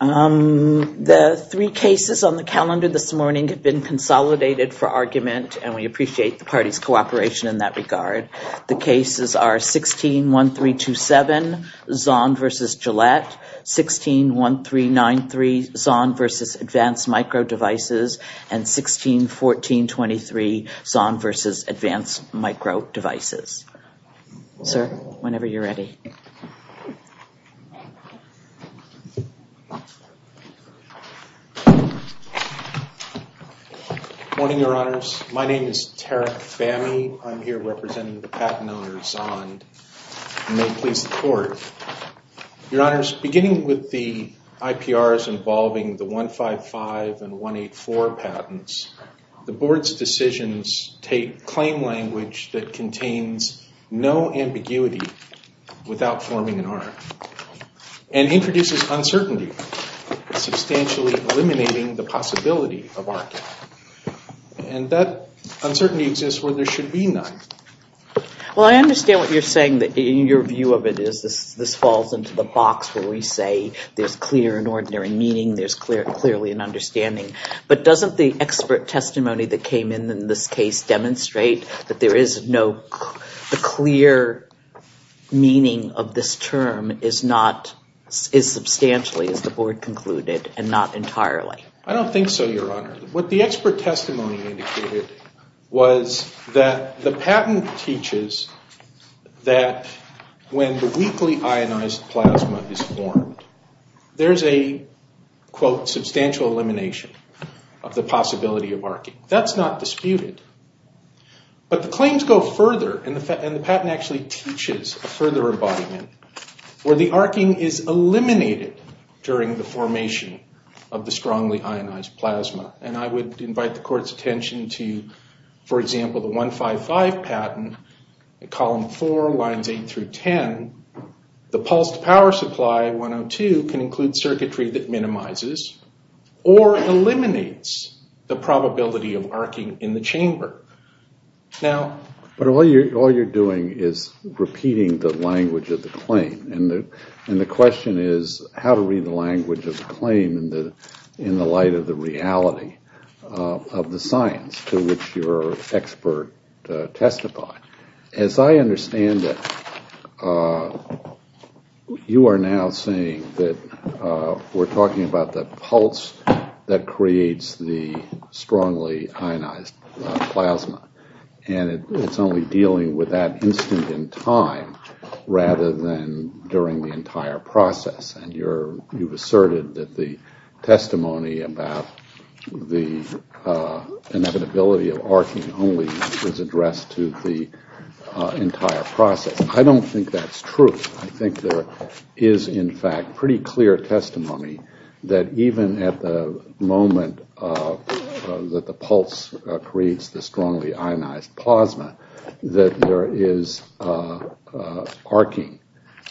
The three cases on the calendar this morning have been consolidated for argument and we appreciate the parties cooperation in that regard. The cases are 161327 Zond v. Gillette, 161393 Zond v. Advanced Micro Devices, and 161423 Zond v. Advanced Micro Devices. Sir, whenever you're ready. Morning, Your Honors. My name is Tarek Fahmy. I'm here representing the patent owner Zond. May it please the Court. Your Honors, beginning with the IPRs involving the 155 and 184 patents, the Board's decisions take claim language that contains no ambiguity without forming an argument, and introduces uncertainty, substantially eliminating the possibility of argument. And that uncertainty exists where there should be none. Well, I understand what you're saying, that your view of it is this falls into the box where we say there's clear and ordinary meaning, there's clearly an understanding. But doesn't the expert testimony that came in in this case demonstrate that there is no clear meaning of this term is not, is substantially, as the Board concluded, and not entirely? I don't think so, Your Honor. What the expert testimony indicated was that the patent teaches that when the weakly ionized plasma is formed, there's a, quote, substantial elimination of the possibility of arcing. That's not disputed. But the claims go further, and the patent actually teaches a further embodiment where the arcing is eliminated during the formation of the strongly ionized plasma. And I would invite the Court's attention to, for example, the 155 patent, column 4, lines 8 through 10, the pulsed power supply, 102, can include circuitry that minimizes or eliminates the probability of arcing in the chamber. Now... But all you're doing is repeating the language of the claim. And the question is, how to read the language of the claim in the light of the reality of the science to which your expert testified. As I understand it, you are now saying that we're talking about the pulse that creates the strongly ionized plasma. And it's only dealing with that instant in time, rather than during the entire process. And you've asserted that the testimony about the inevitability of arcing only is addressed to the entire process. I don't think that's true. I think there is, in fact, pretty clear testimony that even at the moment that the pulse creates the strongly ionized plasma, that there is arcing.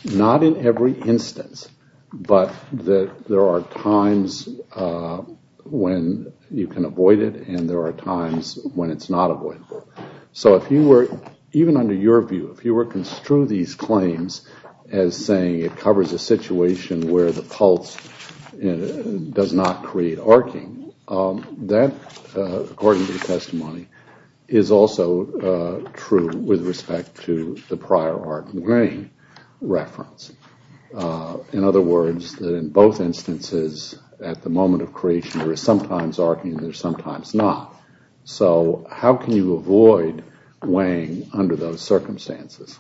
Not in every instance, but that there are times when you can avoid it and there are times when it's not avoidable. So if you were, even under your view, if you were to construe these claims as saying it covers a situation where the pulse does not create arcing, that, according to the testimony, is also true with respect to the prior arcing reference. In other words, that in both instances, at the moment of creation, there is sometimes arcing and there is sometimes not. So how can you avoid weighing under those circumstances?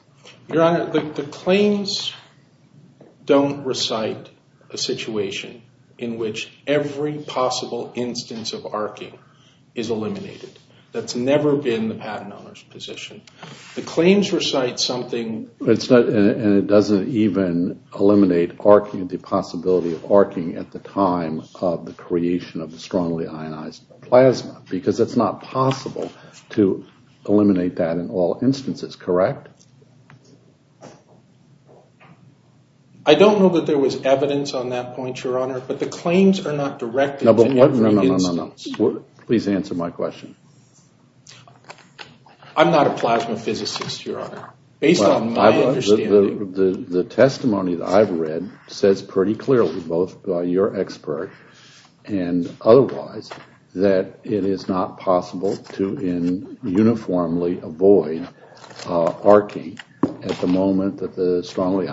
Your Honor, the claims don't recite a situation in which every possible instance of arcing is eliminated. That's never been the patent owner's position. The claims recite something... And it doesn't even eliminate the possibility of arcing at the time of the creation of the strongly ionized plasma, because it's not possible to eliminate that in all instances, correct? I don't know that there was evidence on that point, Your Honor, but the claims are not directed to every instance. No, no, no, no, no. Please answer my question. I'm not a plasma physicist, Your Honor. Based on my understanding... The testimony that I've read says pretty clearly, both by your expert and otherwise, that it is not possible to uniformly avoid arcing at the moment of the testimony.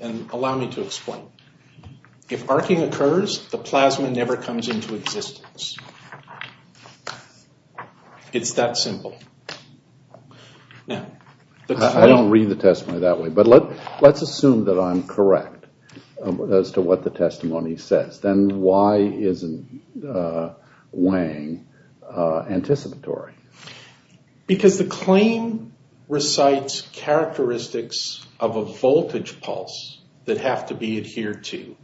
And allow me to explain. If arcing occurs, the plasma never comes into existence. It's that simple. I don't read the testimony that way, but let's assume that I'm correct as to what the testimony says. Then why isn't weighing anticipatory? Because the claim recites characteristics of a voltage pulse that have to be adhered to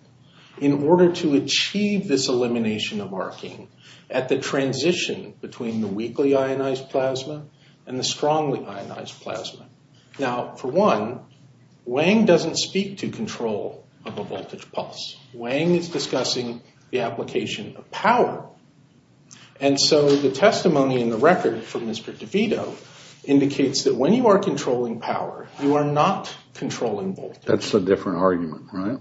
in order to achieve this elimination of arcing at the transition between the weakly ionized plasma and the strongly ionized plasma. Now, for one, weighing doesn't speak to control of a voltage pulse. Weighing is discussing the application of power. And so the testimony in the record from Mr. DeVito indicates that when you are controlling power, you are not controlling voltage. That's a different argument, right?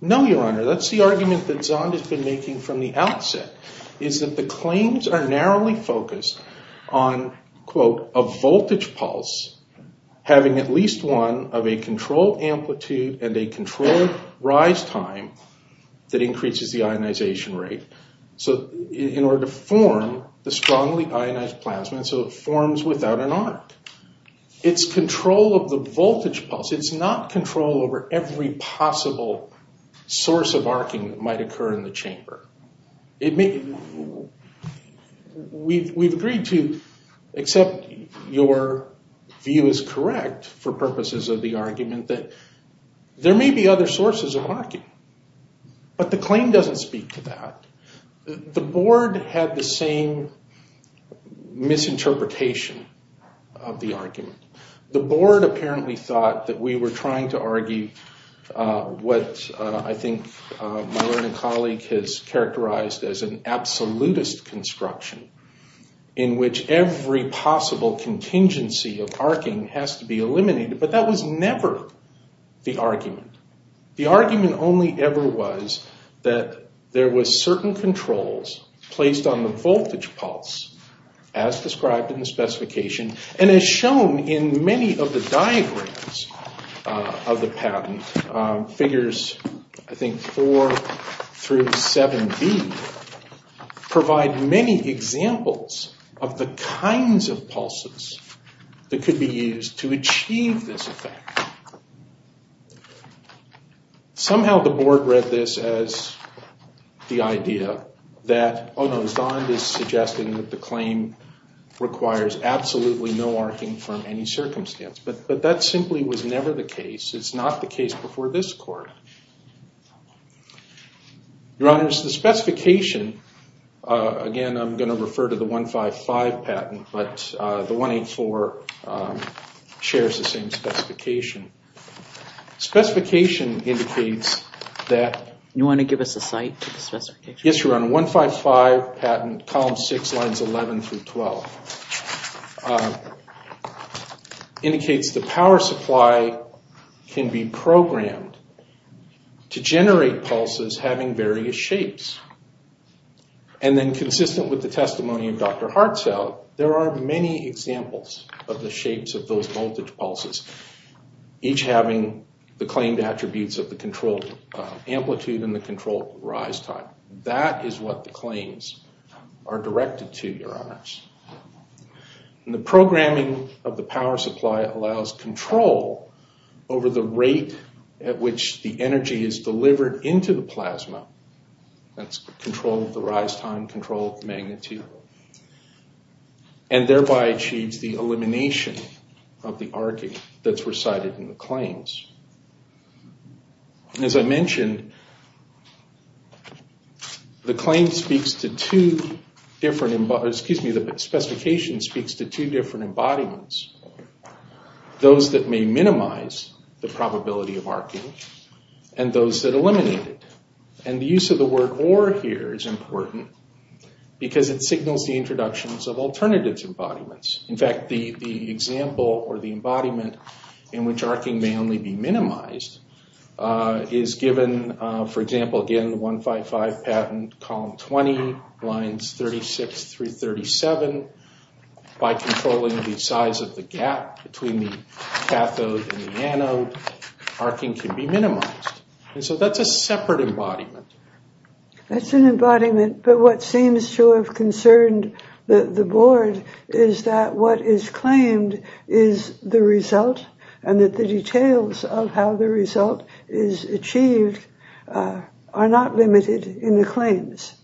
No, Your Honor. That's the argument that Zond has been making from the outset, is that the claims are narrowly focused on, quote, a voltage pulse having at least one of a controlled amplitude and a controlled rise time that increases the ionization rate in order to form the strongly ionized plasma so it forms without an arc. It's control of the voltage pulse. It's not control over every possible source of arcing that might occur in the chamber. We've agreed to, except your view is But the claim doesn't speak to that. The board had the same misinterpretation of the argument. The board apparently thought that we were trying to argue what I think my learning colleague has characterized as an absolutist construction in which every possible contingency of arcing has to be The argument only ever was that there was certain controls placed on the voltage pulse as described in the specification and as shown in many of the diagrams of the patent, figures I think 4 through 7B, provide many examples of the kinds of pulses that could be used to achieve this effect. Somehow the board read this as the idea that, oh no, Zond is suggesting that the claim requires absolutely no arcing from any circumstance. But that simply was never the case. It's not the case before this court. Your honors, the specification, again I'm going to refer to the 155 patent, but the 184 shares the same specification. Specification indicates that... You want to give us a site for the specification? Yes, your honor. 155 patent, column 6, lines 11 through 12, indicates the power supply can be programmed to generate pulses having various shapes. And then consistent with the testimony of Dr. Hartzell, there are many examples of the shapes of those voltage pulses, each having the claimed attributes of the controlled amplitude and the controlled rise time. That is what the claims are directed to, your honors. The programming of the power supply allows control over the rate at which the energy is delivered into the plasma, that's controlled the rise time, controlled magnitude, and thereby achieves the elimination of the arcing that's recited in the claims. As I mentioned, the claim speaks to two different... Excuse me, the specification speaks to two different embodiments. Those that may minimize the probability of arcing and those that eliminate it. And the use of the word or here is important because it signals the introductions of alternative embodiments. In fact, the example or the embodiment in which arcing may only be minimized is given, for example, again, 155 patent, column 20, lines 36 through 37. By controlling the size of the gap between the cathode and the anode, arcing can be minimized. And so that's a separate embodiment. That's an embodiment, but what seems to have concerned the board is that what is claimed is the result and that the details of how the result is achieved are not limited in the claims.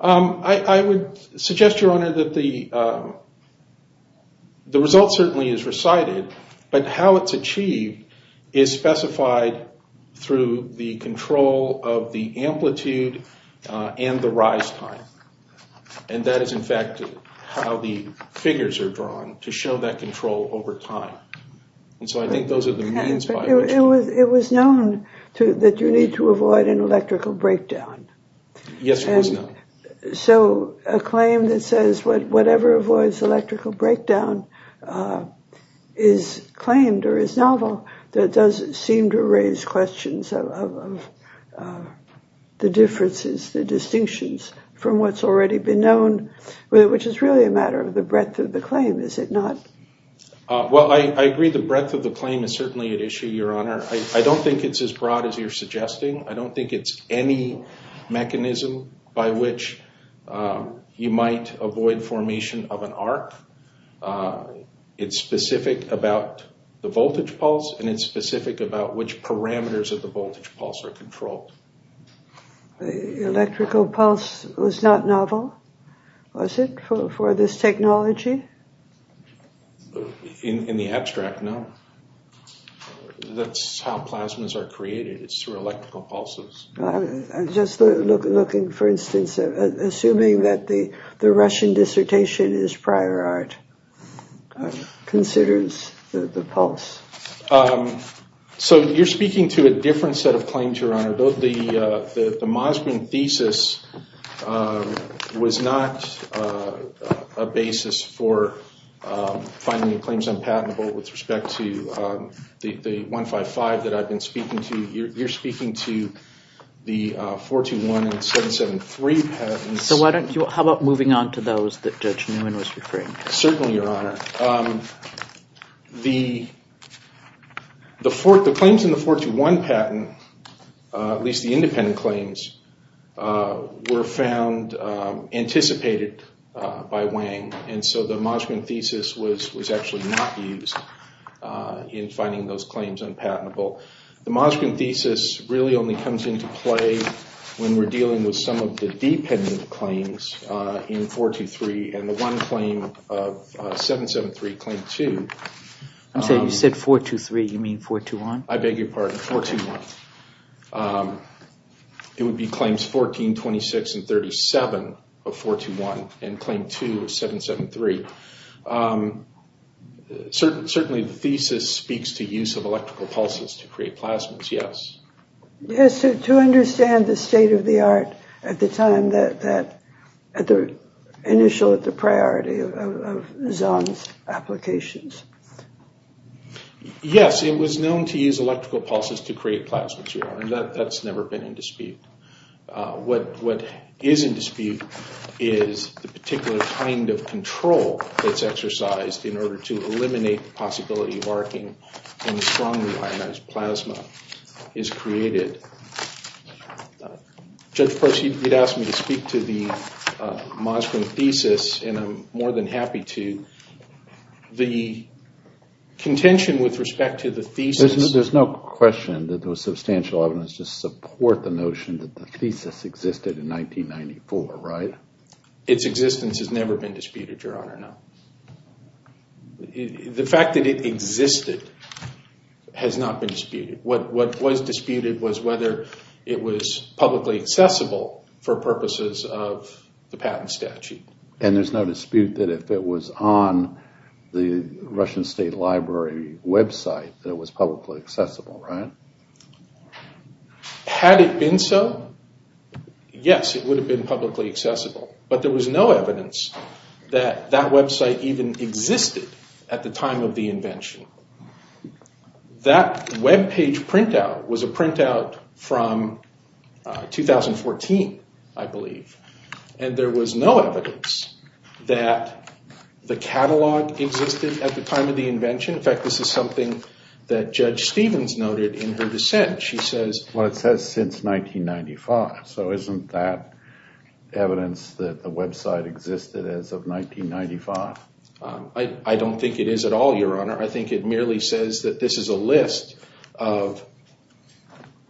I would suggest, Your Honor, that the result certainly is recited, but how it's achieved is specified through the control of the amplitude and the rise time. And that is, in fact, how the figures are drawn to show that control over time. And so I think those are the means by which... It was known that you need to avoid an electrical breakdown. Yes, it was known. So a claim that says whatever avoids electrical breakdown is claimed or is novel, that does seem to raise questions of the differences, the distinctions from what's already been known, which is really a matter of the breadth of the claim, is it not? Well, I agree the breadth of the claim is certainly at issue, Your Honor. I don't think it's as broad as you're suggesting. I don't think it's any mechanism by which you might avoid formation of an arc. It's specific about the voltage pulse and it's specific about which parameters of the voltage pulse are controlled. Electrical pulse was not novel, was it, for this technology? In the abstract, no. That's how plasmas are created. It's through electrical pulses. I'm just looking, for instance, assuming that the Russian dissertation is prior art, considers the pulse. So you're speaking to a different set of claims, Your Honor. The Moskvin thesis was not a basis for finding claims unpatentable with respect to the 155 that I've been speaking to. You're speaking to the 421 and 773 patents. So how about moving on to those that Judge Newman was referring to? Certainly, Your Honor. The claims in the 421 patent, at least the independent claims, were found anticipated by Wang. And so the Moskvin thesis was actually not used in finding those claims unpatentable. The Moskvin thesis really only comes into play when we're dealing with some of the dependent claims in 423. And the one claim of 773, claim 2. You said 423, you mean 421? I beg your pardon, 421. It would be claims 14, 26, and 37 of 421 and claim 2 of 773. Certainly the thesis speaks to use of electrical pulses to create plasmas, yes. Yes, to understand the state of the art at the time, the initial priority of Zahn's applications. Yes, it was known to use electrical pulses to create plasmas, Your Honor. That's never been in dispute. What is in dispute is the particular kind of control that's exercised in order to eliminate the possibility of arcing and strongly ionized plasma is created. Judge Proceed, you'd asked me to speak to the Moskvin thesis, and I'm more than happy to. The contention with respect to the thesis... There's no question that there was substantial evidence to support the notion that the thesis existed in 1994, right? Its existence has never been disputed, Your Honor, no. The fact that it existed has not been disputed. What was disputed was whether it was publicly accessible for purposes of the patent statute. And there's no dispute that if it was on the Russian State Library website that it was publicly accessible, right? Had it been so, yes, it would have been publicly accessible. But there was no evidence that that website even existed at the time of the invention. That webpage printout was a printout from 2014, I believe. And there was no evidence that the catalog existed at the time of the invention. In fact, this is something that Judge Stevens noted in her dissent. Well, it says since 1995, so isn't that evidence that the website existed as of 1995? I don't think it is at all, Your Honor. I think it merely says that this is a list of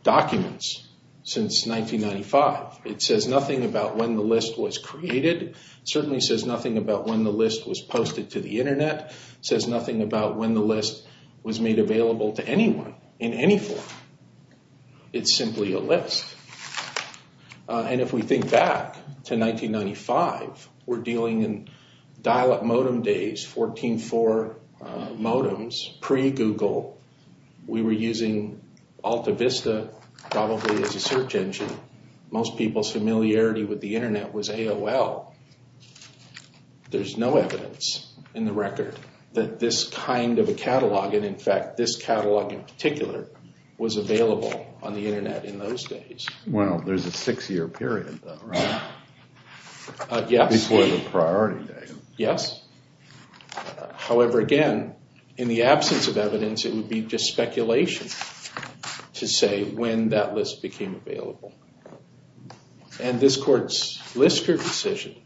documents since 1995. It says nothing about when the list was created. It certainly says nothing about when the list was posted to the Internet. It says nothing about when the list was made available to anyone in any form. It's simply a list. And if we think back to 1995, we're dealing in dial-up modem days, 14-4 modems, pre-Google. We were using AltaVista probably as a search engine. Most people's familiarity with the Internet was AOL. There's no evidence in the record that this kind of a catalog, and in fact this catalog in particular, was available on the Internet in those days. Well, there's a six-year period, though, right? Yes. Before the priority date. Yes. However, again, in the absence of evidence, it would be just speculation to say when that list became available. And this court's Lister decision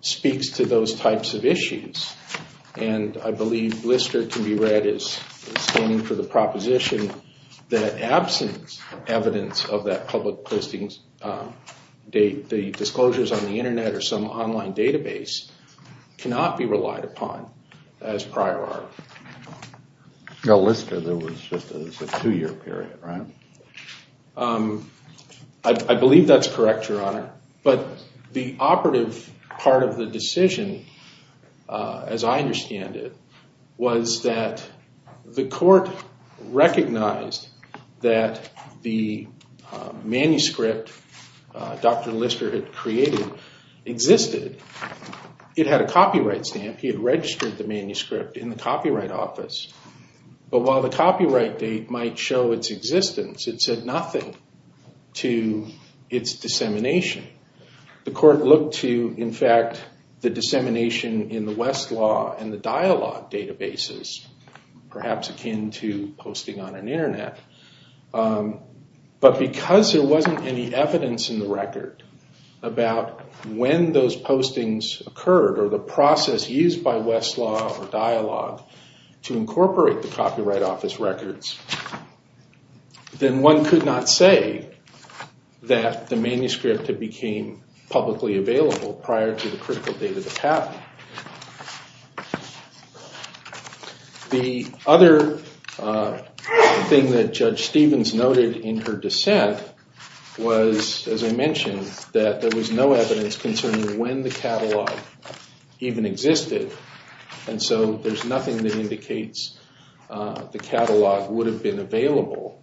speaks to those types of issues. And I believe Lister can be read as standing for the proposition that in absence of evidence of that public listings date, the disclosures on the Internet or some online database cannot be relied upon as prior art. Now, Lister, there was just a two-year period, right? I believe that's correct, Your Honor. But the operative part of the decision, as I understand it, was that the court recognized that the manuscript Dr. Lister had created existed. It had a copyright stamp. He had registered the manuscript in the Copyright Office. But while the copyright date might show its existence, it said nothing to its dissemination. The court looked to, in fact, the dissemination in the Westlaw and the Dialog databases, perhaps akin to posting on an Internet. But because there wasn't any evidence in the record about when those postings occurred or the process used by Westlaw or Dialog to incorporate the Copyright Office records, then one could not say that the manuscript had became publicly available prior to the critical date of the patent. The other thing that Judge Stevens noted in her dissent was, as I mentioned, that there was no evidence concerning when the catalog even existed. And so there's nothing that indicates the catalog would have been available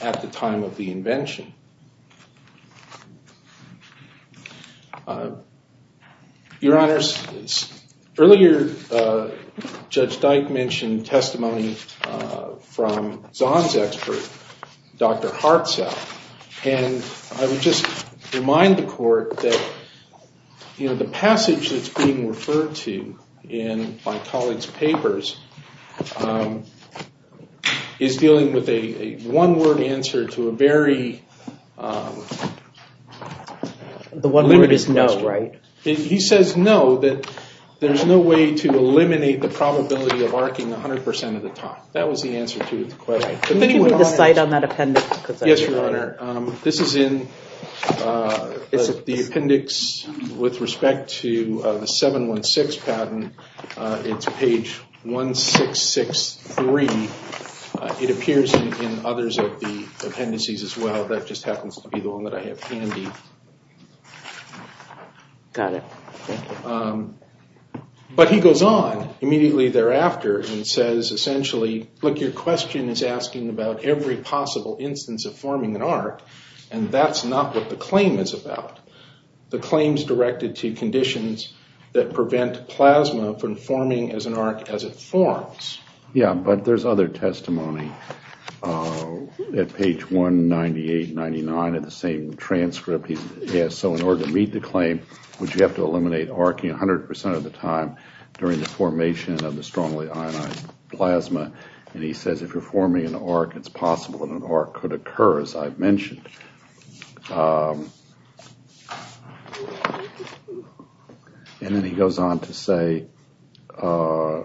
at the time of the invention. Your Honors, earlier Judge Dyke mentioned testimony from Zahn's expert, Dr. Hartzell. And I would just remind the court that the passage that's being referred to in my colleague's papers is dealing with a one-word answer to a very limited question. The one word is no, right? He says no, that there's no way to eliminate the probability of arcing 100% of the time. That was the answer to the question. Can you give me the site on that appendix? Yes, Your Honor. This is in the appendix with respect to the 716 patent. It's page 1663. It appears in others of the appendices as well. That just happens to be the one that I have handy. Got it. But he goes on immediately thereafter and says essentially, look, your question is asking about every possible instance of forming an arc, and that's not what the claim is about. The claim's directed to conditions that prevent plasma from forming as an arc as it forms. Yeah, but there's other testimony at page 198, 99 of the same transcript. So in order to meet the claim, would you have to eliminate arcing 100% of the time during the formation of the strongly ionized plasma? And he says if you're forming an arc, it's possible that an arc could occur, as I've mentioned. And then he goes on to say that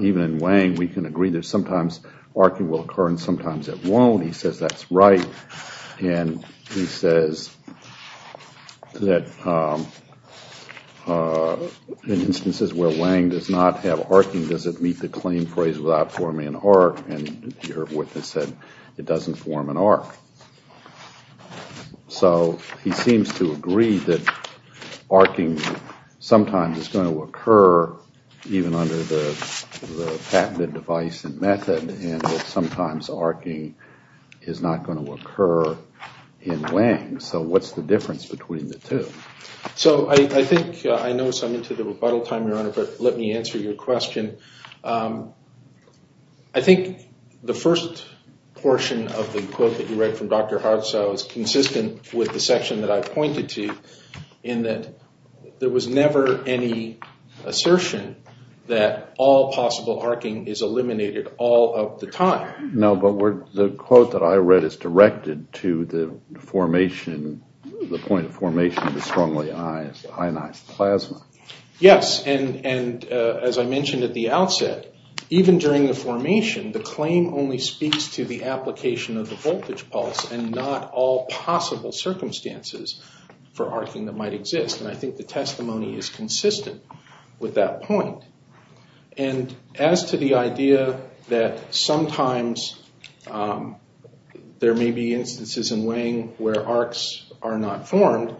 even in Wang, we can agree that sometimes arcing will occur and sometimes it won't. He says that's right. And he says that in instances where Wang does not have arcing, does it meet the claim phrase without forming an arc? And your witness said it doesn't form an arc. So he seems to agree that arcing sometimes is going to occur even under the patented device and method and that sometimes arcing is not going to occur in Wang. So what's the difference between the two? So I think I know I'm into the rebuttal time, Your Honor, but let me answer your question. I think the first portion of the quote that you read from Dr. Hartzau is consistent with the section that I pointed to in that there was never any assertion that all possible arcing is eliminated all of the time. No, but the quote that I read is directed to the point of formation of the strongly ionized plasma. Yes, and as I mentioned at the outset, even during the formation, the claim only speaks to the application of the voltage pulse and not all possible circumstances for arcing that might exist. And I think the testimony is consistent with that point. And as to the idea that sometimes there may be instances in Wang where arcs are not formed,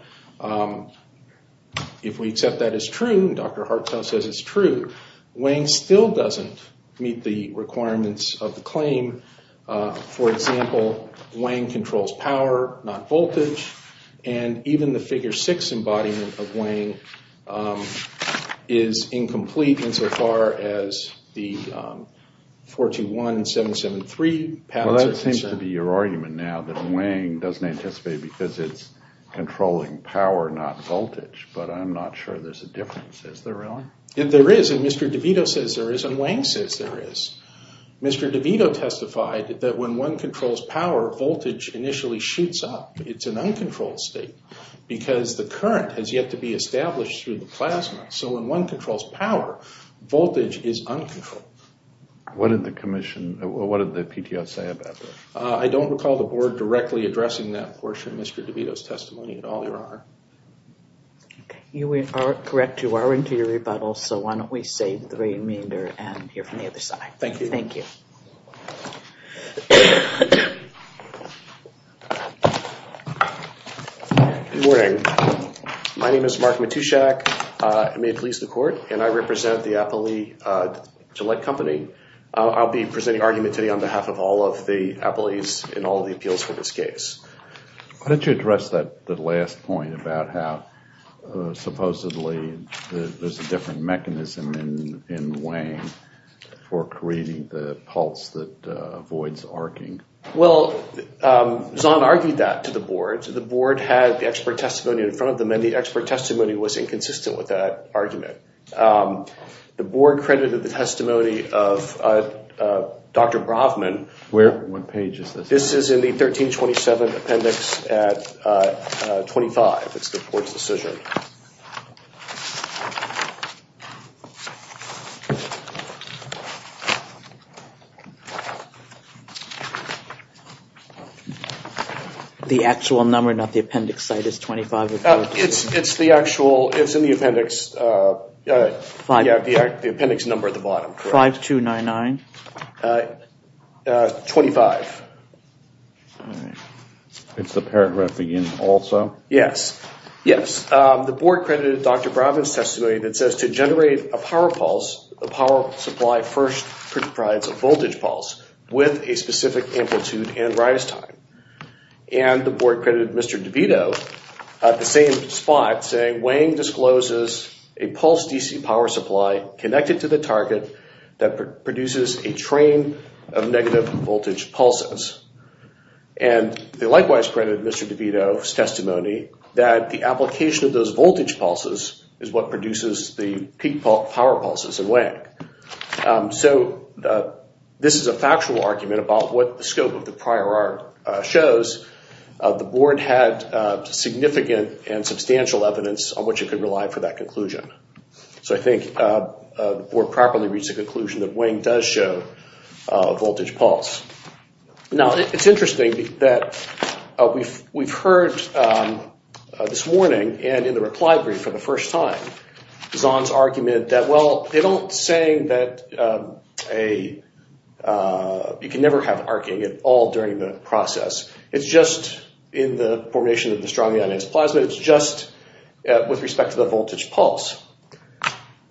if we accept that as true, Dr. Hartzau says it's true, Wang still doesn't meet the requirements of the claim. For example, Wang controls power, not voltage, and even the figure six embodiment of Wang is incomplete insofar as the 421 and 773 patterns are concerned. Well, that seems to be your argument now, that Wang doesn't anticipate because it's controlling power, not voltage. But I'm not sure there's a difference. Is there really? There is, and Mr. DeVito says there is, and Wang says there is. Mr. DeVito testified that when one controls power, voltage initially shoots up. It's an uncontrolled state because the current has yet to be established through the plasma. So when one controls power, voltage is uncontrolled. What did the commission, what did the PTO say about that? I don't recall the board directly addressing that portion of Mr. DeVito's testimony at all, Your Honor. You are correct. You are into your rebuttal. So why don't we save the remainder and hear from the other side. Thank you. Thank you. Good morning. My name is Mark Matushak. It may please the court, and I represent the Appley Gillette Company. I'll be presenting argument today on behalf of all of the appellees in all of the appeals for this case. Why don't you address that last point about how supposedly there's a different mechanism in Wang for creating the pulse that avoids arcing? Well, Zahn argued that to the board. The board had the expert testimony in front of them, and the expert testimony was inconsistent with that argument. The board credited the testimony of Dr. Brofman. What page is this? This is in the 1327 appendix at 25. It's the board's decision. The actual number, not the appendix site, is 25? It's the actual, it's in the appendix. Yeah, the appendix number at the bottom. 5 2 9 9? 25. It's the paragraph again also? Yes. Yes. The board credited Dr. Brofman's testimony that says to generate a power pulse, the power supply first comprises a voltage pulse with a specific amplitude and rise time. And the board credited Mr. DeVito at the same spot saying, Wang discloses a pulse DC power supply connected to the target that produces a train of negative voltage pulses. And they likewise credited Mr. DeVito's testimony that the application of those voltage pulses is what produces the peak power pulses in Wang. So this is a factual argument about what the scope of the prior art shows. The board had significant and substantial evidence on which it could rely for that conclusion. So I think the board properly reached the conclusion that Wang does show a voltage pulse. Now, it's interesting that we've heard this warning and in the reply brief for the first time, Zahn's argument that, well, they don't say that you can never have arcing at all during the process. It's just in the formation of the strongly ionized plasma. It's just with respect to the voltage pulse.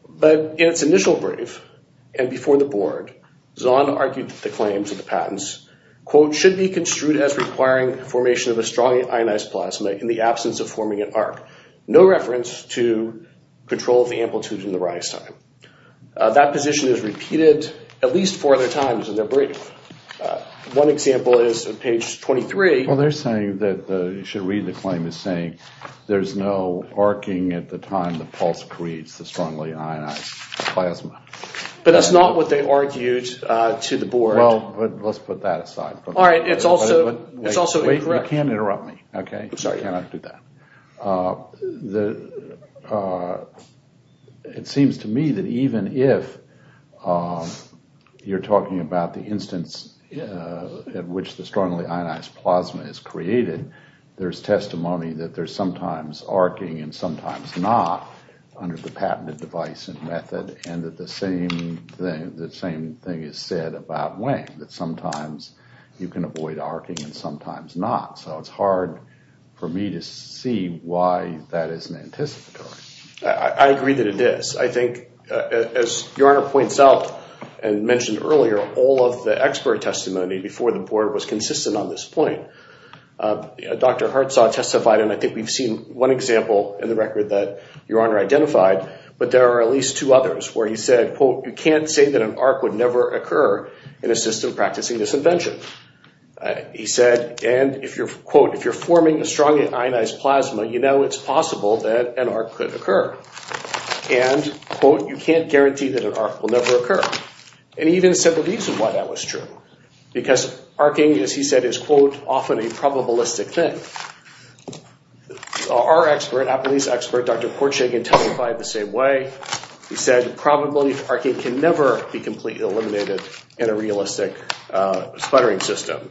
But in its initial brief and before the board, Zahn argued that the claims of the patents, quote, should be construed as requiring formation of a strongly ionized plasma in the absence of forming an arc. No reference to control of the amplitude and the rise time. That position is repeated at least four other times in their brief. One example is on page 23. Well, they're saying that you should read the claim as saying there's no arcing at the time the pulse creates the strongly ionized plasma. But that's not what they argued to the board. Well, let's put that aside. All right. It's also incorrect. You can't interrupt me. I'm sorry. You cannot do that. It seems to me that even if you're talking about the instance in which the strongly ionized plasma is created, there's testimony that there's sometimes arcing and sometimes not under the patented device and method, and that the same thing is said about Wang, that sometimes you can avoid arcing and sometimes not. So it's hard for me to see why that isn't anticipatory. I agree that it is. I think, as Your Honor points out and mentioned earlier, all of the expert testimony before the board was consistent on this point. Dr. Hartsaw testified, and I think we've seen one example in the record that Your Honor identified, but there are at least two others where he said, quote, you can't say that an arc would never occur in a system practicing this invention. He said, and if you're, quote, if you're forming a strongly ionized plasma, you know it's possible that an arc could occur. And, quote, you can't guarantee that an arc will never occur. And he even said the reason why that was true, because arcing, as he said, is, quote, often a probabilistic thing. Our expert, Applebee's expert, Dr. Portshagen testified the same way. He said the probability of arcing can never be completely eliminated in a realistic sputtering system.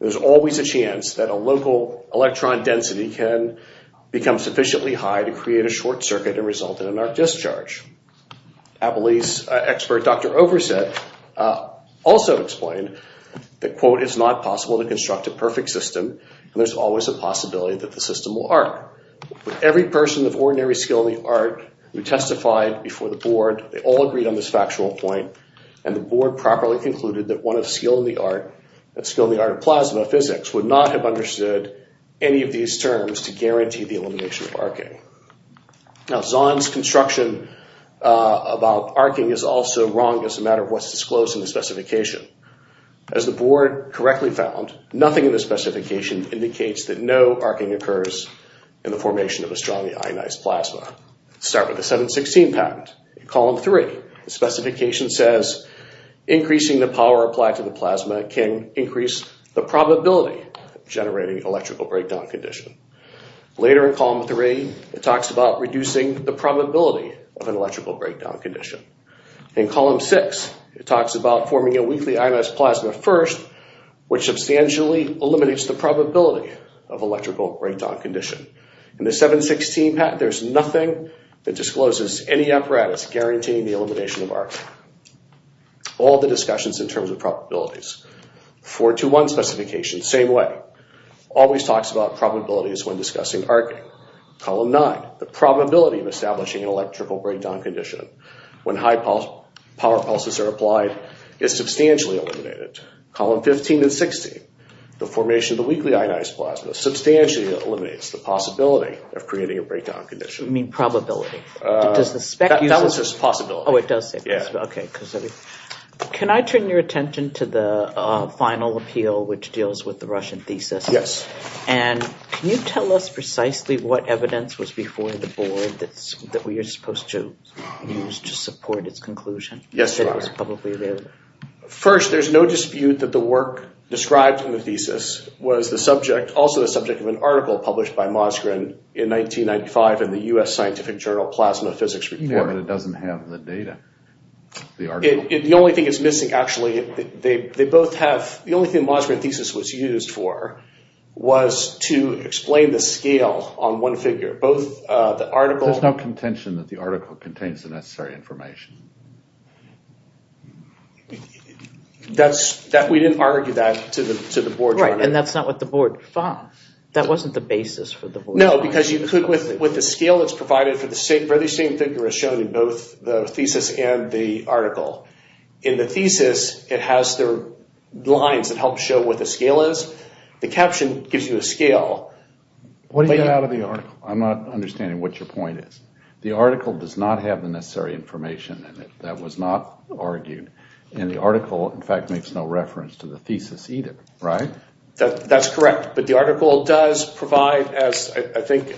There's always a chance that a local electron density can become sufficiently high to create a short circuit and result in an arc discharge. Applebee's expert, Dr. Oversett, also explained that, quote, it's not possible to construct a perfect system, and there's always a possibility that the system will arc. Every person of ordinary skill in the art who testified before the board, they all agreed on this factual point, and the board properly concluded that one of skill in the art, that skill in the art of plasma physics, would not have understood any of these terms to guarantee the elimination of arcing. Now, Zahn's construction about arcing is also wrong as a matter of what's disclosed in the specification. As the board correctly found, nothing in the specification indicates that no arcing occurs in the formation of a strongly ionized plasma. Let's start with the 716 patent. In column 3, the specification says increasing the power applied to the plasma can increase the probability of generating an electrical breakdown condition. Later in column 3, it talks about reducing the probability of an electrical breakdown condition. In column 6, it talks about forming a weakly ionized plasma first, which substantially eliminates the probability of electrical breakdown condition. In the 716 patent, there's nothing that discloses any apparatus guaranteeing the elimination of arcing. All the discussions in terms of probabilities. 421 specification, same way, always talks about probabilities when discussing arcing. In column 8, column 9, the probability of establishing an electrical breakdown condition when high power pulses are applied is substantially eliminated. Column 15 and 16, the formation of the weakly ionized plasma substantially eliminates the possibility of creating a breakdown condition. You mean probability. Does the spec use it? That one says possibility. Oh, it does say possibility. Yeah. Okay. Can I turn your attention to the final appeal, which deals with the Russian thesis? Yes. And can you tell us precisely what evidence was before the board that we are supposed to use to support its conclusion? Yes. That it was publicly available. First, there's no dispute that the work described in the thesis was the subject, also the subject of an article published by Mosgren in 1995 in the U.S. Scientific Journal Plasma Physics Report. Yeah, but it doesn't have the data. The only thing it's missing, actually, they both have – the only thing Mosgren's thesis was used for was to explain the scale on one figure. Both the article – There's no contention that the article contains the necessary information. That's – we didn't argue that to the board. Right, and that's not what the board – that wasn't the basis for the board. No, because you – with the scale that's provided for the same figure as shown in both the thesis and the article. In the thesis, it has the lines that help show what the scale is. The caption gives you a scale. What do you get out of the article? I'm not understanding what your point is. The article does not have the necessary information in it. That was not argued. And the article, in fact, makes no reference to the thesis either, right? That's correct. But the article does provide, as I think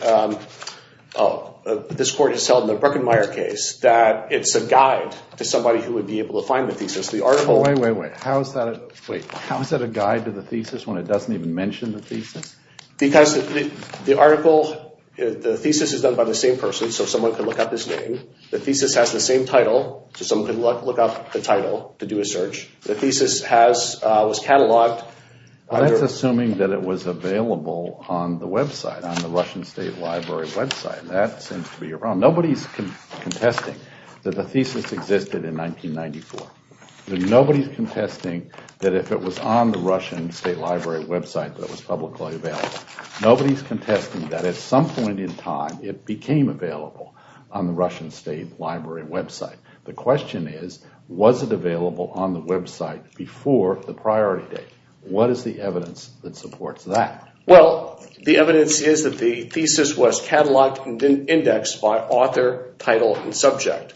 this court has held in the Bruckenmaier case, that it's a guide to somebody who would be able to find the thesis. The article – Wait, wait, wait. How is that a – wait. How is that a guide to the thesis when it doesn't even mention the thesis? Because the article – the thesis is done by the same person, so someone can look up his name. The thesis has the same title, so someone can look up the title to do a search. The thesis has – was catalogued – Well, that's assuming that it was available on the website, on the Russian State Library website. That seems to be your problem. Nobody's contesting that the thesis existed in 1994. Nobody's contesting that if it was on the Russian State Library website that it was publicly available. Nobody's contesting that at some point in time, it became available on the Russian State Library website. The question is, was it available on the website before the priority date? What is the evidence that supports that? Well, the evidence is that the thesis was catalogued and then indexed by author, title, and subject.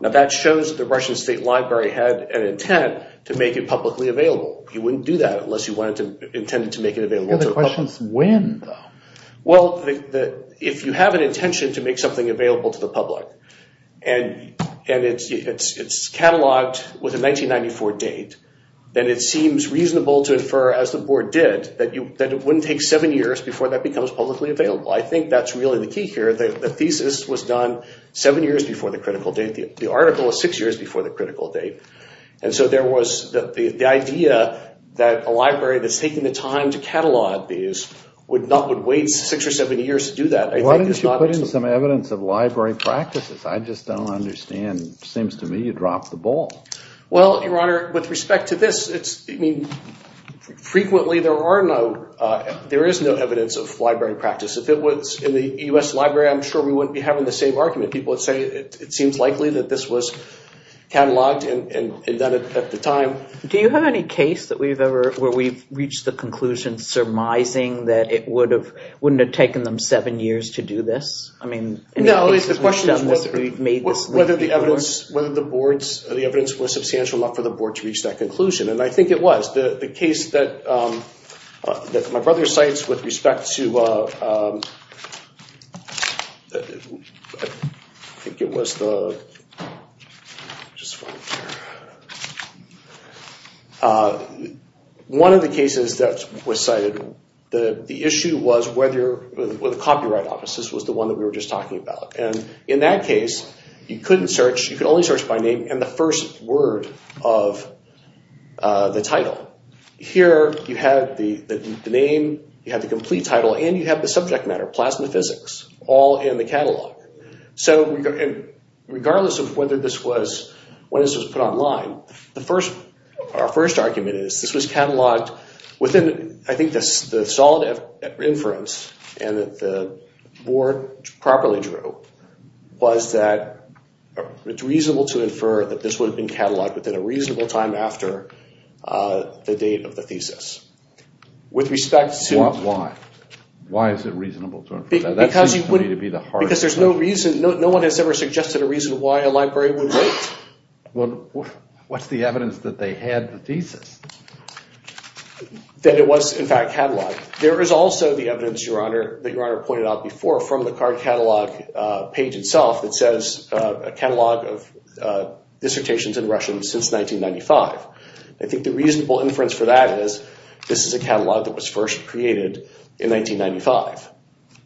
Now that shows that the Russian State Library had an intent to make it publicly available. You wouldn't do that unless you wanted to – intended to make it available to the public. The question is when, though. Well, if you have an intention to make something available to the public and it's catalogued with a 1994 date, then it seems reasonable to infer, as the board did, that it wouldn't take seven years before that becomes publicly available. I think that's really the key here. The thesis was done seven years before the critical date. The article was six years before the critical date. And so there was the idea that a library that's taking the time to catalog these would not – would wait six or seven years to do that. Why don't you put in some evidence of library practices? I just don't understand. It seems to me you dropped the ball. Well, Your Honor, with respect to this, it's – I mean, frequently there are no – there is no evidence of library practice. If it was in the U.S. Library, I'm sure we wouldn't be having the same argument. People would say it seems likely that this was catalogued and done at the time. Do you have any case that we've ever – where we've reached the conclusion surmising that it would have – wouldn't have taken them seven years to do this? I mean – No, at least the question is whether the evidence was substantial enough for the board to reach that conclusion. And I think it was. The case that my brother cites with respect to – I think it was the – one of the cases that was cited, the issue was whether – the copyright office, this was the one that we were just talking about. And in that case, you couldn't search – you could only search by name and the first word of the title. Here you have the name, you have the complete title, and you have the subject matter, plasma physics, all in the catalog. So regardless of whether this was – when this was put online, the first – our first argument is this was catalogued within – I think the solid inference and that the board properly drew was that it's reasonable to infer that this would have been catalogued within a reasonable time after the date of the thesis. With respect to – Why? Why is it reasonable to infer that? That seems to me to be the hard part. Because there's no reason – no one has ever suggested a reason why a library would wait. What's the evidence that they had the thesis? That it was, in fact, catalogued. There is also the evidence, Your Honor, that Your Honor pointed out before from the card catalog page itself that says a catalog of dissertations in Russian since 1995. I think the reasonable inference for that is this is a catalog that was first created in 1995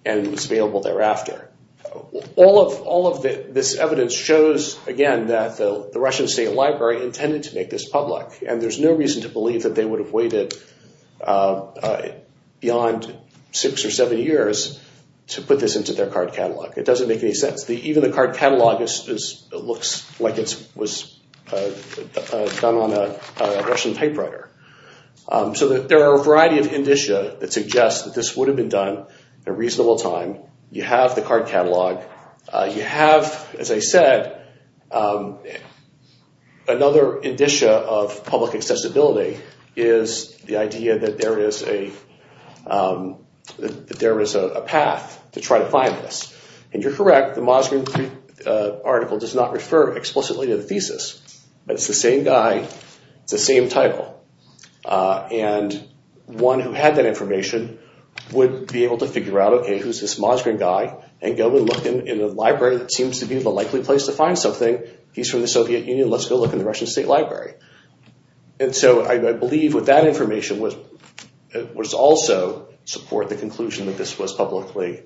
and was available thereafter. All of this evidence shows, again, that the Russian State Library intended to make this public, and there's no reason to believe that they would have waited beyond six or seven years to put this into their card catalog. It doesn't make any sense. Even the card catalog looks like it was done on a Russian typewriter. So there are a variety of indicia that suggest that this would have been done at a reasonable time. You have the card catalog. You have, as I said, another indicia of public accessibility is the idea that there is a path to try to find this. And you're correct. The Mosgrin article does not refer explicitly to the thesis. It's the same guy. It's the same title. And one who had that information would be able to figure out, okay, who's this Mosgrin guy, and go and look in the library that seems to be the likely place to find something. He's from the Soviet Union. Let's go look in the Russian State Library. And so I believe with that information was also support the conclusion that this was publicly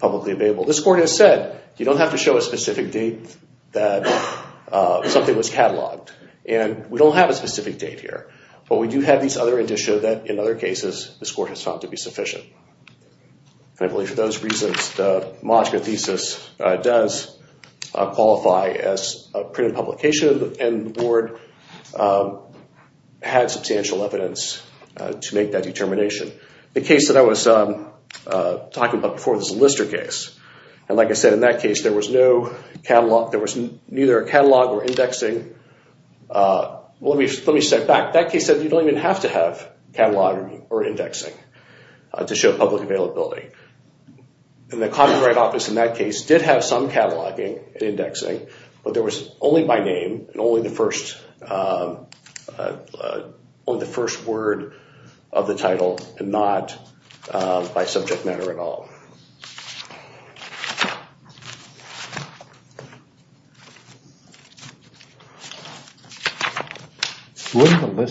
available. This court has said you don't have to show a specific date that something was cataloged. And we don't have a specific date here. But we do have these other indicia that in other cases this court has found to be sufficient. And I believe for those reasons the Mosgrin thesis does qualify as a printed publication and the board had substantial evidence to make that determination. The case that I was talking about before was the Lister case. And like I said, in that case there was no catalog. There was neither a catalog or indexing. Let me step back. That case said you don't even have to have cataloging or indexing to show public availability. And the Copyright Office in that case did have some cataloging and indexing, but there was only by name and only the first word of the title and not by subject matter at all. If we were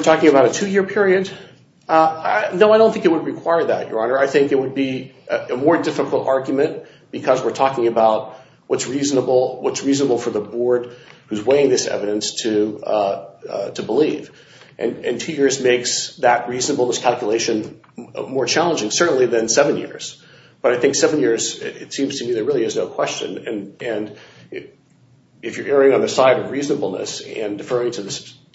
talking about a two-year period? No, I don't think it would require that, Your Honor. I think it would be a more difficult argument because we're talking about what's reasonable for the board who's weighing this evidence to believe. And two years makes that reasonableness calculation more challenging, certainly than seven years. But I think seven years, it seems to me there really is no question. And if you're erring on the side of reasonableness and deferring to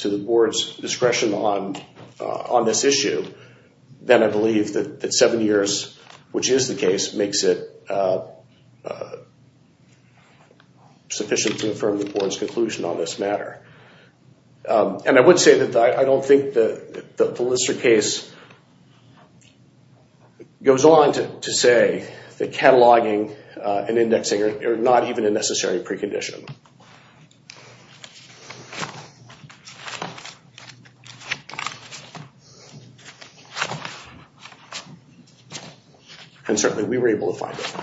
the board's discretion on this issue, then I believe that seven years, which is the case, makes it sufficient to affirm the board's conclusion on this matter. And I would say that I don't think the Lister case goes on to say that cataloging and indexing are not even a necessary precondition. And certainly we were able to find it.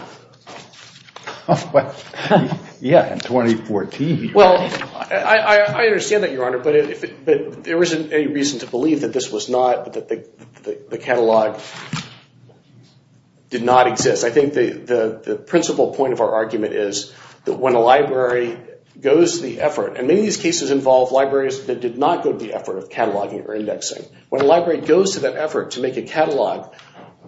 Yeah, in 2014. Well, I understand that, Your Honor, but there isn't any reason to believe that the catalog did not exist. I think the principal point of our argument is that when a library goes to the effort, and many of these cases involve libraries that did not go to the effort of cataloging or indexing, when a library goes to that effort to make a catalog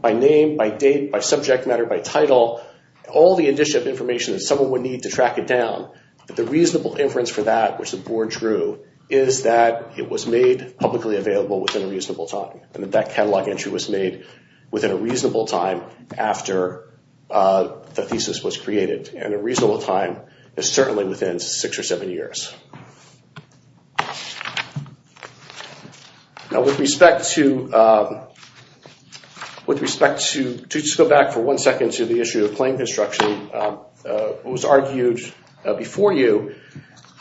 by name, by date, by subject matter, by title, all the additional information that someone would need to track it down, that the reasonable inference for that, which the board drew, is that it was made publicly available within a reasonable time. And that that catalog entry was made within a reasonable time after the thesis was created. And a reasonable time is certainly within six or seven years. Now, with respect to, to just go back for one second to the issue of claim construction, it was argued before you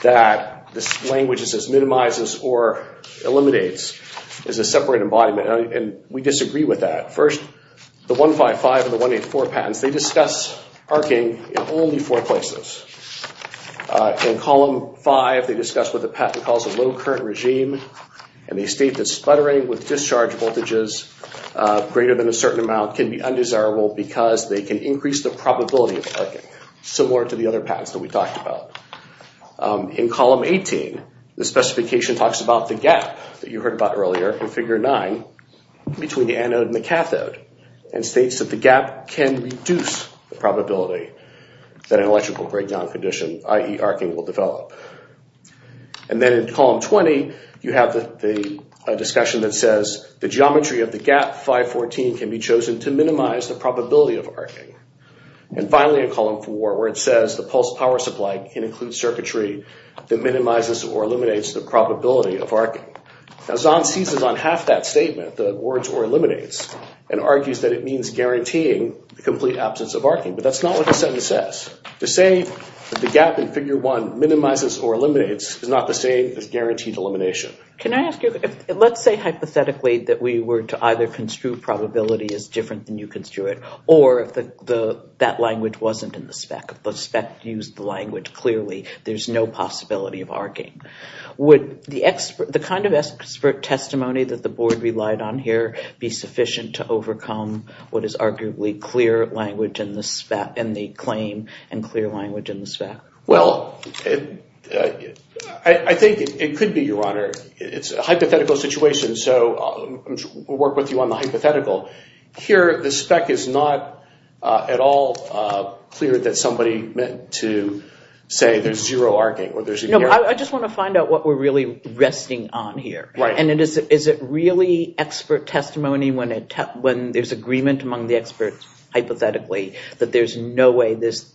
that this language that says minimizes or eliminates is a separate embodiment. And we disagree with that. First, the 155 and the 184 patents, they discuss arcing in only four places. In column five, they discuss what the patent calls a low current regime, and they state that sputtering with discharge voltages greater than a certain amount can be undesirable because they can increase the probability of arcing, similar to the other patents that we talked about. In column 18, the specification talks about the gap that you heard about earlier in figure nine between the anode and the cathode, and states that the gap can reduce the probability that an electrical breakdown condition, i.e. arcing, will develop. And then in column 20, you have the discussion that says the geometry of the gap 514 can be chosen to minimize the probability of arcing. And finally, in column four, where it says the pulse power supply can include circuitry that minimizes or eliminates the probability of arcing. Now, Zahn seizes on half that statement, the words or eliminates, and argues that it means guaranteeing the complete absence of arcing. But that's not what the sentence says. To say that the gap in figure one minimizes or eliminates is not the same as guaranteed elimination. Can I ask you, let's say hypothetically that we were to either construe probability as different than you construe it, or if that language wasn't in the spec, if the spec used the language clearly, there's no possibility of arcing. Would the kind of expert testimony that the board relied on here be sufficient to overcome what is arguably clear language in the claim and clear language in the spec? Well, I think it could be, Your Honor. It's a hypothetical situation, so we'll work with you on the hypothetical. Here, the spec is not at all clear that somebody meant to say there's zero arcing. I just want to find out what we're really resting on here. Is it really expert testimony when there's agreement among the experts, hypothetically, that there's no way this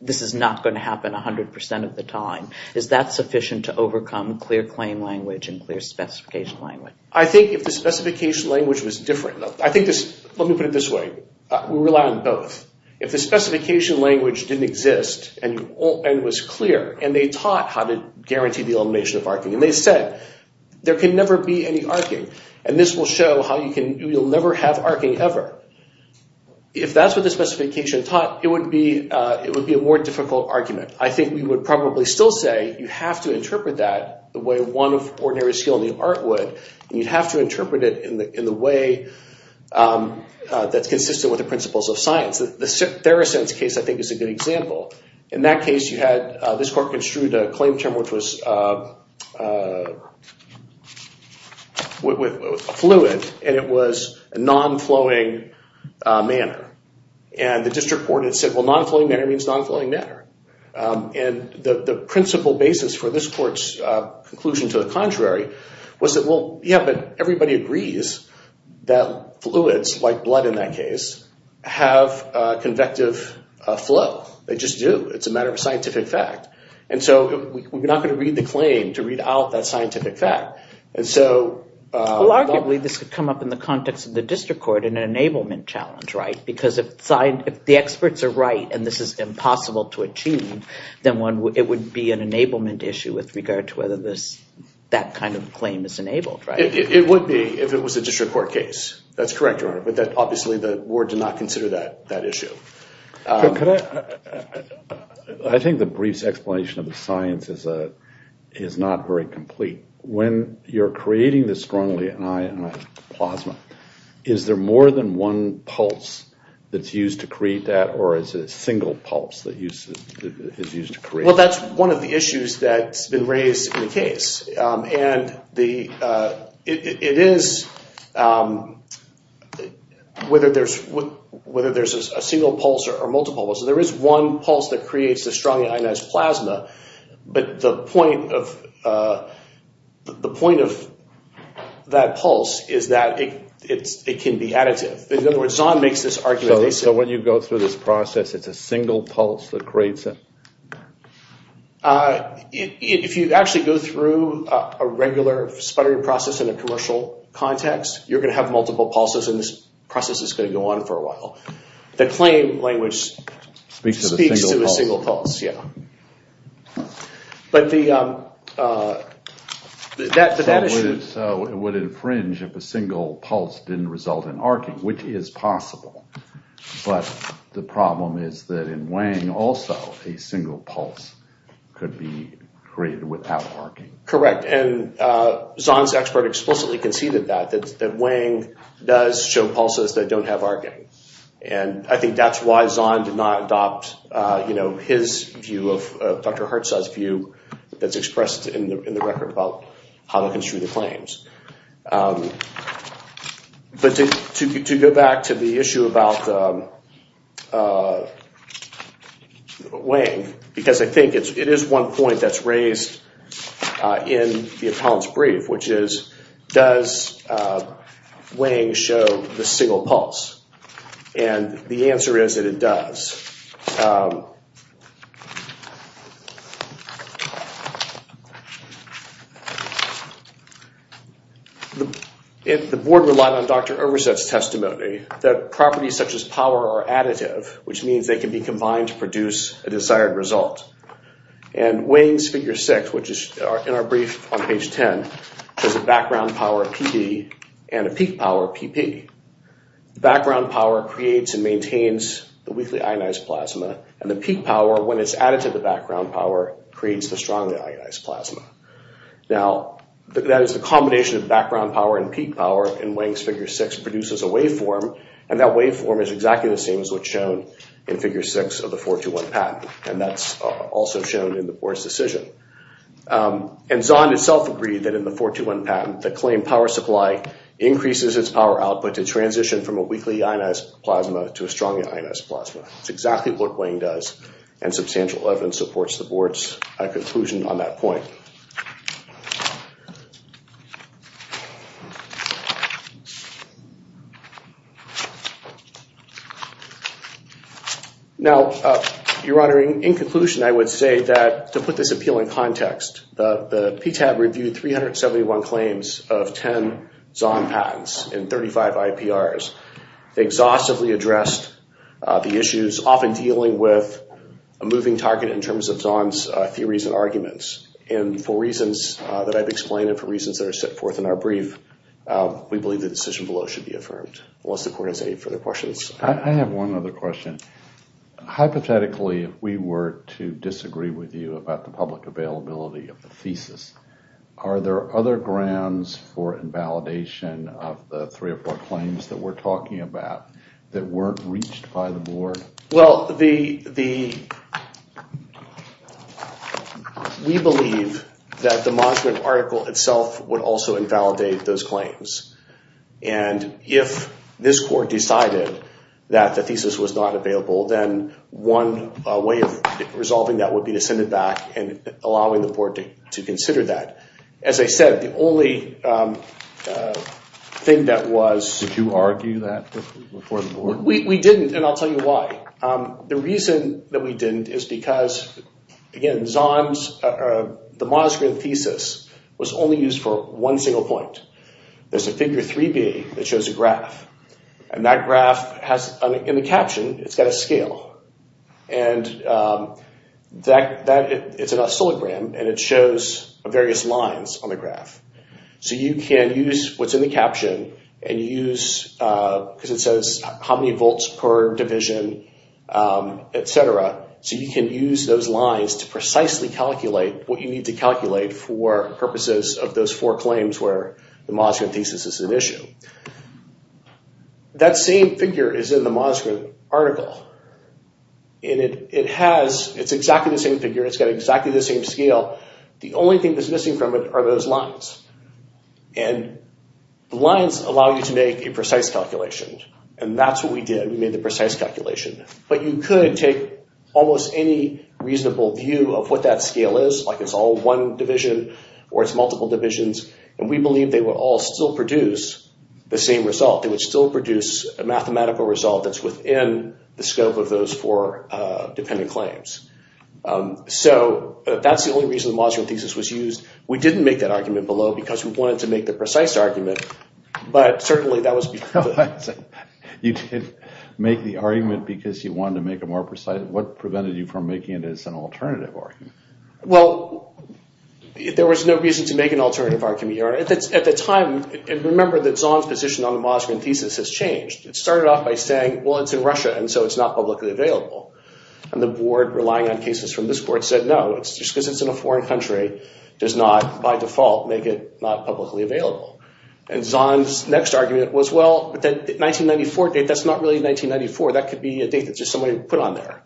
is not going to happen 100% of the time? Is that sufficient to overcome clear claim language and clear specification language? I think if the specification language was different, let me put it this way. We rely on both. If the specification language didn't exist and was clear, and they taught how to guarantee the elimination of arcing, and they said there can never be any arcing, and this will show how you'll never have arcing ever, if that's what the specification taught, it would be a more difficult argument. I think we would probably still say you have to interpret that the way one of ordinary skill in the art would, and you'd have to interpret it in the way that's consistent with the principles of science. The Theracent's case, I think, is a good example. In that case, this court construed a claim term which was fluid, and it was non-flowing manner. The district court had said, well, non-flowing manner means non-flowing manner. The principle basis for this court's conclusion to the contrary was that, well, yeah, but everybody agrees that fluids, like blood in that case, have convective flow. They just do. It's a matter of scientific fact, and so we're not going to read the claim to read out that scientific fact. Well, arguably, this could come up in the context of the district court in an enablement challenge, right? Because if the experts are right and this is impossible to achieve, then it would be an enablement issue with regard to whether that kind of claim is enabled, right? It would be if it was a district court case. That's correct, Your Honor, but obviously the ward did not consider that issue. I think the brief explanation of the science is not very complete. When you're creating the strongly ionized plasma, is there more than one pulse that's used to create that, or is it a single pulse that is used to create it? Well, that's one of the issues that's been raised in the case, and it is whether there's a single pulse or a multiple pulse. There is one pulse that creates the strongly ionized plasma, but the point of that pulse is that it can be additive. In other words, Zahn makes this argument. So when you go through this process, it's a single pulse that creates it? If you actually go through a regular sputtery process in a commercial context, you're going to have multiple pulses, and this process is going to go on for a while. The claim language speaks to a single pulse, yeah. So it would infringe if a single pulse didn't result in arcing, which is possible, but the problem is that in Wang, also a single pulse could be created without arcing. Correct, and Zahn's expert explicitly conceded that, that Wang does show pulses that don't have arcing. And I think that's why Zahn did not adopt his view of Dr. Hertz's view that's expressed in the record about how to construe the claims. But to go back to the issue about Wang, because I think it is one point that's raised in the appellant's brief, which is, does Wang show the single pulse? And the answer is that it does. The board relied on Dr. Erberseth's testimony that properties such as power are additive, which means they can be combined to produce a desired result. And Wang's Figure 6, which is in our brief on page 10, has a background power of PB and a peak power of PP. Background power creates and maintains the weakly ionized plasma, and the peak power, when it's added to the background power, creates the strongly ionized plasma. Now, that is the combination of background power and peak power in Wang's Figure 6 produces a waveform, and that waveform is exactly the same as what's shown in Figure 6 of the 421 patent. And that's also shown in the board's decision. And Zahn himself agreed that in the 421 patent, the claimed power supply increases its power output to transition from a weakly ionized plasma to a strongly ionized plasma. It's exactly what Wang does, and substantial evidence supports the board's conclusion on that point. Now, Your Honor, in conclusion, I would say that, to put this appeal in context, the PTAB reviewed 371 claims of 10 Zahn patents and 35 IPRs. They exhaustively addressed the issues, often dealing with a moving target in terms of Zahn's theories and arguments. And for reasons that I've explained and for reasons that are set forth in our brief, we believe the decision below should be affirmed. Unless the court has any further questions. I have one other question. Hypothetically, if we were to disagree with you about the public availability of the thesis, are there other grounds for invalidation of the three or four claims that we're talking about that weren't reached by the board? Well, we believe that the Mosman article itself would also invalidate those claims. And if this court decided that the thesis was not available, then one way of resolving that would be to send it back and allowing the board to consider that. As I said, the only thing that was... Did you argue that before the board? We didn't, and I'll tell you why. The reason that we didn't is because, again, Zahn's... The Mosman thesis was only used for one single point. There's a figure 3B that shows a graph. And that graph has, in the caption, it's got a scale. And it's in a syllogram, and it shows various lines on the graph. So you can use what's in the caption and use... Because it says how many volts per division, et cetera. So you can use those lines to precisely calculate what you need to calculate for purposes of those four claims where the Mosman thesis is an issue. That same figure is in the Mosman article. And it has... It's exactly the same figure. It's got exactly the same scale. The only thing that's missing from it are those lines. And the lines allow you to make a precise calculation. And that's what we did. We made the precise calculation. But you could take almost any reasonable view of what that scale is, like it's all one division or it's multiple divisions. And we believe they would all still produce the same result. They would still produce a mathematical result that's within the scope of those four dependent claims. So that's the only reason the Mosman thesis was used. We didn't make that argument below because we wanted to make the precise argument. But certainly that was... You didn't make the argument because you wanted to make it more precise? What prevented you from making it as an alternative argument? Well, there was no reason to make an alternative argument. At the time, and remember that Zahn's position on the Mosman thesis has changed. It started off by saying, well, it's in Russia, and so it's not publicly available. And the board, relying on cases from this board, said, no, just because it's in a foreign country does not, by default, make it not publicly available. And Zahn's next argument was, well, but that 1994 date, that's not really 1994. That could be a date that just somebody put on there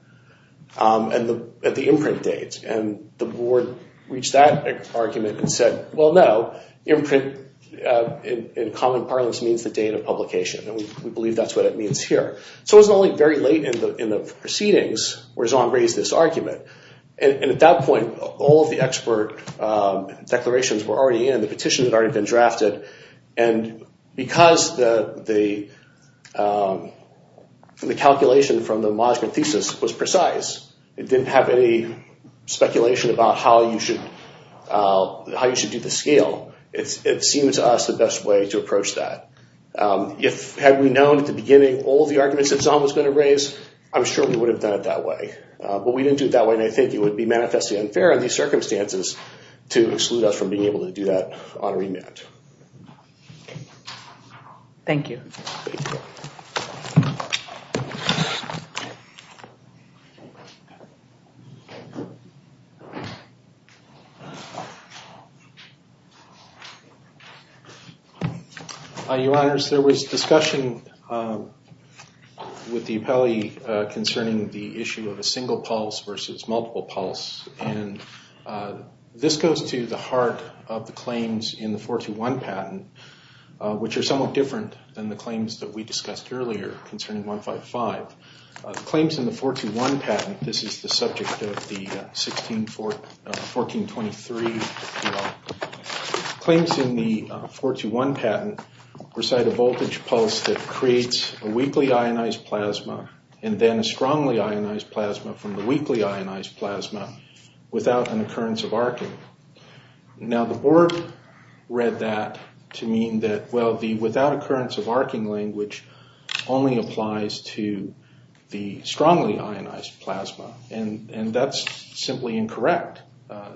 at the imprint date. And the board reached that argument and said, well, no, imprint in common parlance means the date of publication. And we believe that's what it means here. So it was only very late in the proceedings where Zahn raised this argument. And at that point, all of the expert declarations were already in. The petitions had already been drafted. And because the calculation from the Mosman thesis was precise, it didn't have any speculation about how you should do the scale. It seemed to us the best way to approach that. Had we known at the beginning all of the arguments that Zahn was going to raise, I'm sure we would have done it that way. But we didn't do it that way, and I think it would be manifestly unfair in these circumstances to exclude us from being able to do that on remand. Thank you. Thank you. Your Honors, there was discussion with the appellee concerning the issue of a single pulse versus multiple pulse. And this goes to the heart of the claims in the 421 patent, which are somewhat different than the claims that we discussed earlier concerning 155. Claims in the 421 patent, this is the subject of the 1423 bill. Without an occurrence of arcing. Now, the board read that to mean that, well, the without occurrence of arcing language only applies to the strongly ionized plasma. And that's simply incorrect.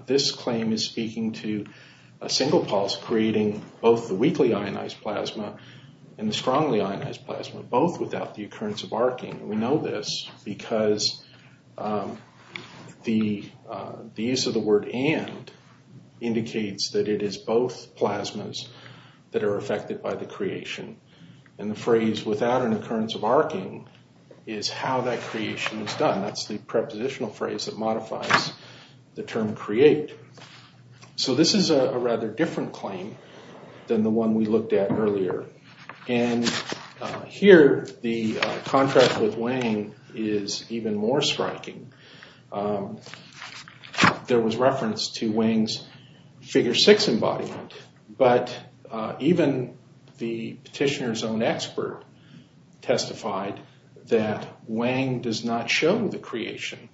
This claim is speaking to a single pulse creating both the weakly ionized plasma and the strongly ionized plasma, both without the occurrence of arcing. We know this because the use of the word and indicates that it is both plasmas that are affected by the creation. And the phrase without an occurrence of arcing is how that creation is done. That's the prepositional phrase that modifies the term create. So this is a rather different claim than the one we looked at earlier. And here, the contract with Wang is even more striking. There was reference to Wang's figure six embodiment. But even the petitioner's own expert testified that Wang does not show the creation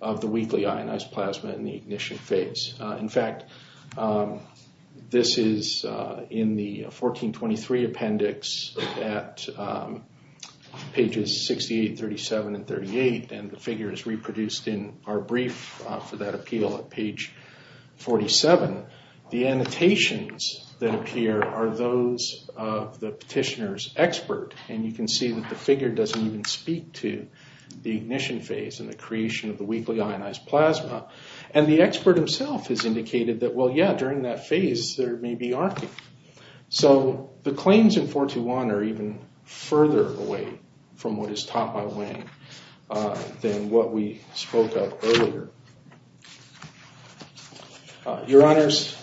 of the weakly ionized plasma in the ignition phase. In fact, this is in the 1423 appendix at pages 68, 37, and 38. And the figure is reproduced in our brief for that appeal at page 47. The annotations that appear are those of the petitioner's expert. And you can see that the figure doesn't even speak to the ignition phase and the creation of the weakly ionized plasma. And the expert himself has indicated that, well, yeah, during that phase, there may be arcing. So the claims in 421 are even further away from what is taught by Wang than what we spoke of earlier. Your Honors,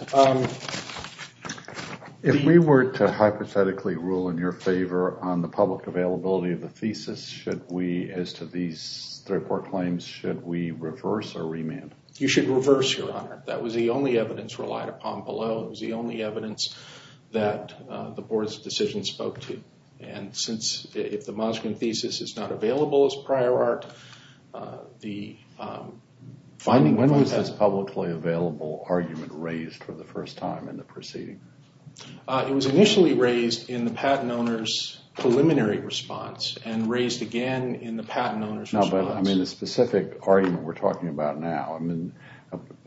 if we were to hypothetically rule in your favor on the public availability of the thesis, should we, as to these three or four claims, should we reverse or remand? You should reverse, Your Honor. That was the only evidence relied upon below. It was the only evidence that the board's decision spoke to. And since if the Moskvin thesis is not available as prior art, the finding of the patent— When was this publicly available argument raised for the first time in the proceeding? It was initially raised in the patent owner's preliminary response and raised again in the patent owner's response. No, but, I mean, the specific argument we're talking about now, I mean,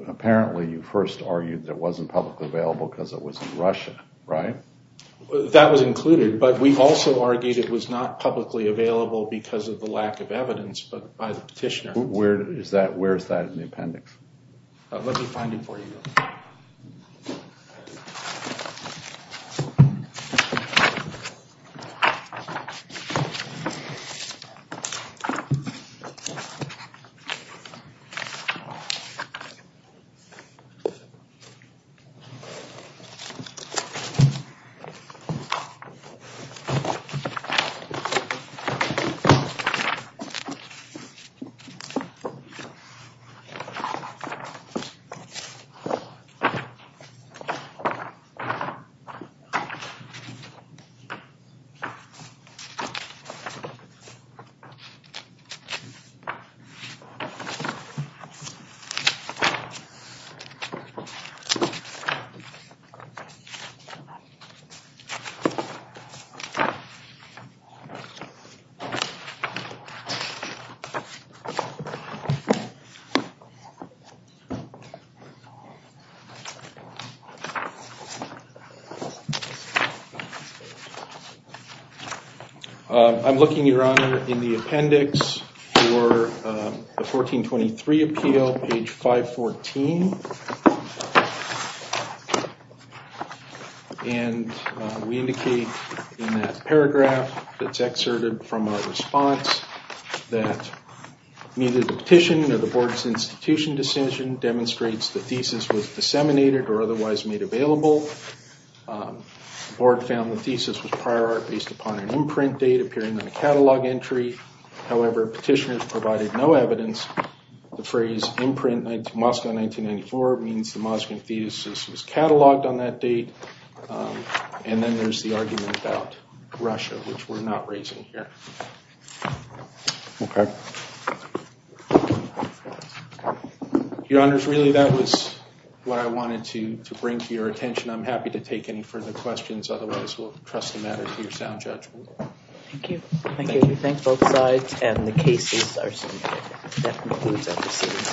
apparently you first argued that it wasn't publicly available because it was in Russia, right? That was included, but we also argued it was not publicly available because of the lack of evidence by the petitioner. Where is that in the appendix? Let me find it for you. Okay. Okay. I'm looking, Your Honor, in the appendix for the 1423 appeal, page 514. And we indicate in that paragraph that's excerpted from our response that neither the petition nor the board's institution decision demonstrates the thesis was disseminated or otherwise made available. The board found the thesis was prior art based upon an imprint date appearing on a catalog entry. However, petitioners provided no evidence. The phrase Moskvin 1994 means the Moskvin thesis was cataloged on that date. And then there's the argument about Russia, which we're not raising here. Okay. Your Honors, really that was what I wanted to bring to your attention. I'm happy to take any further questions. Otherwise, we'll trust the matter to your sound judge. Thank you. Thank you. We thank both sides and the cases are submitted. That concludes our proceedings.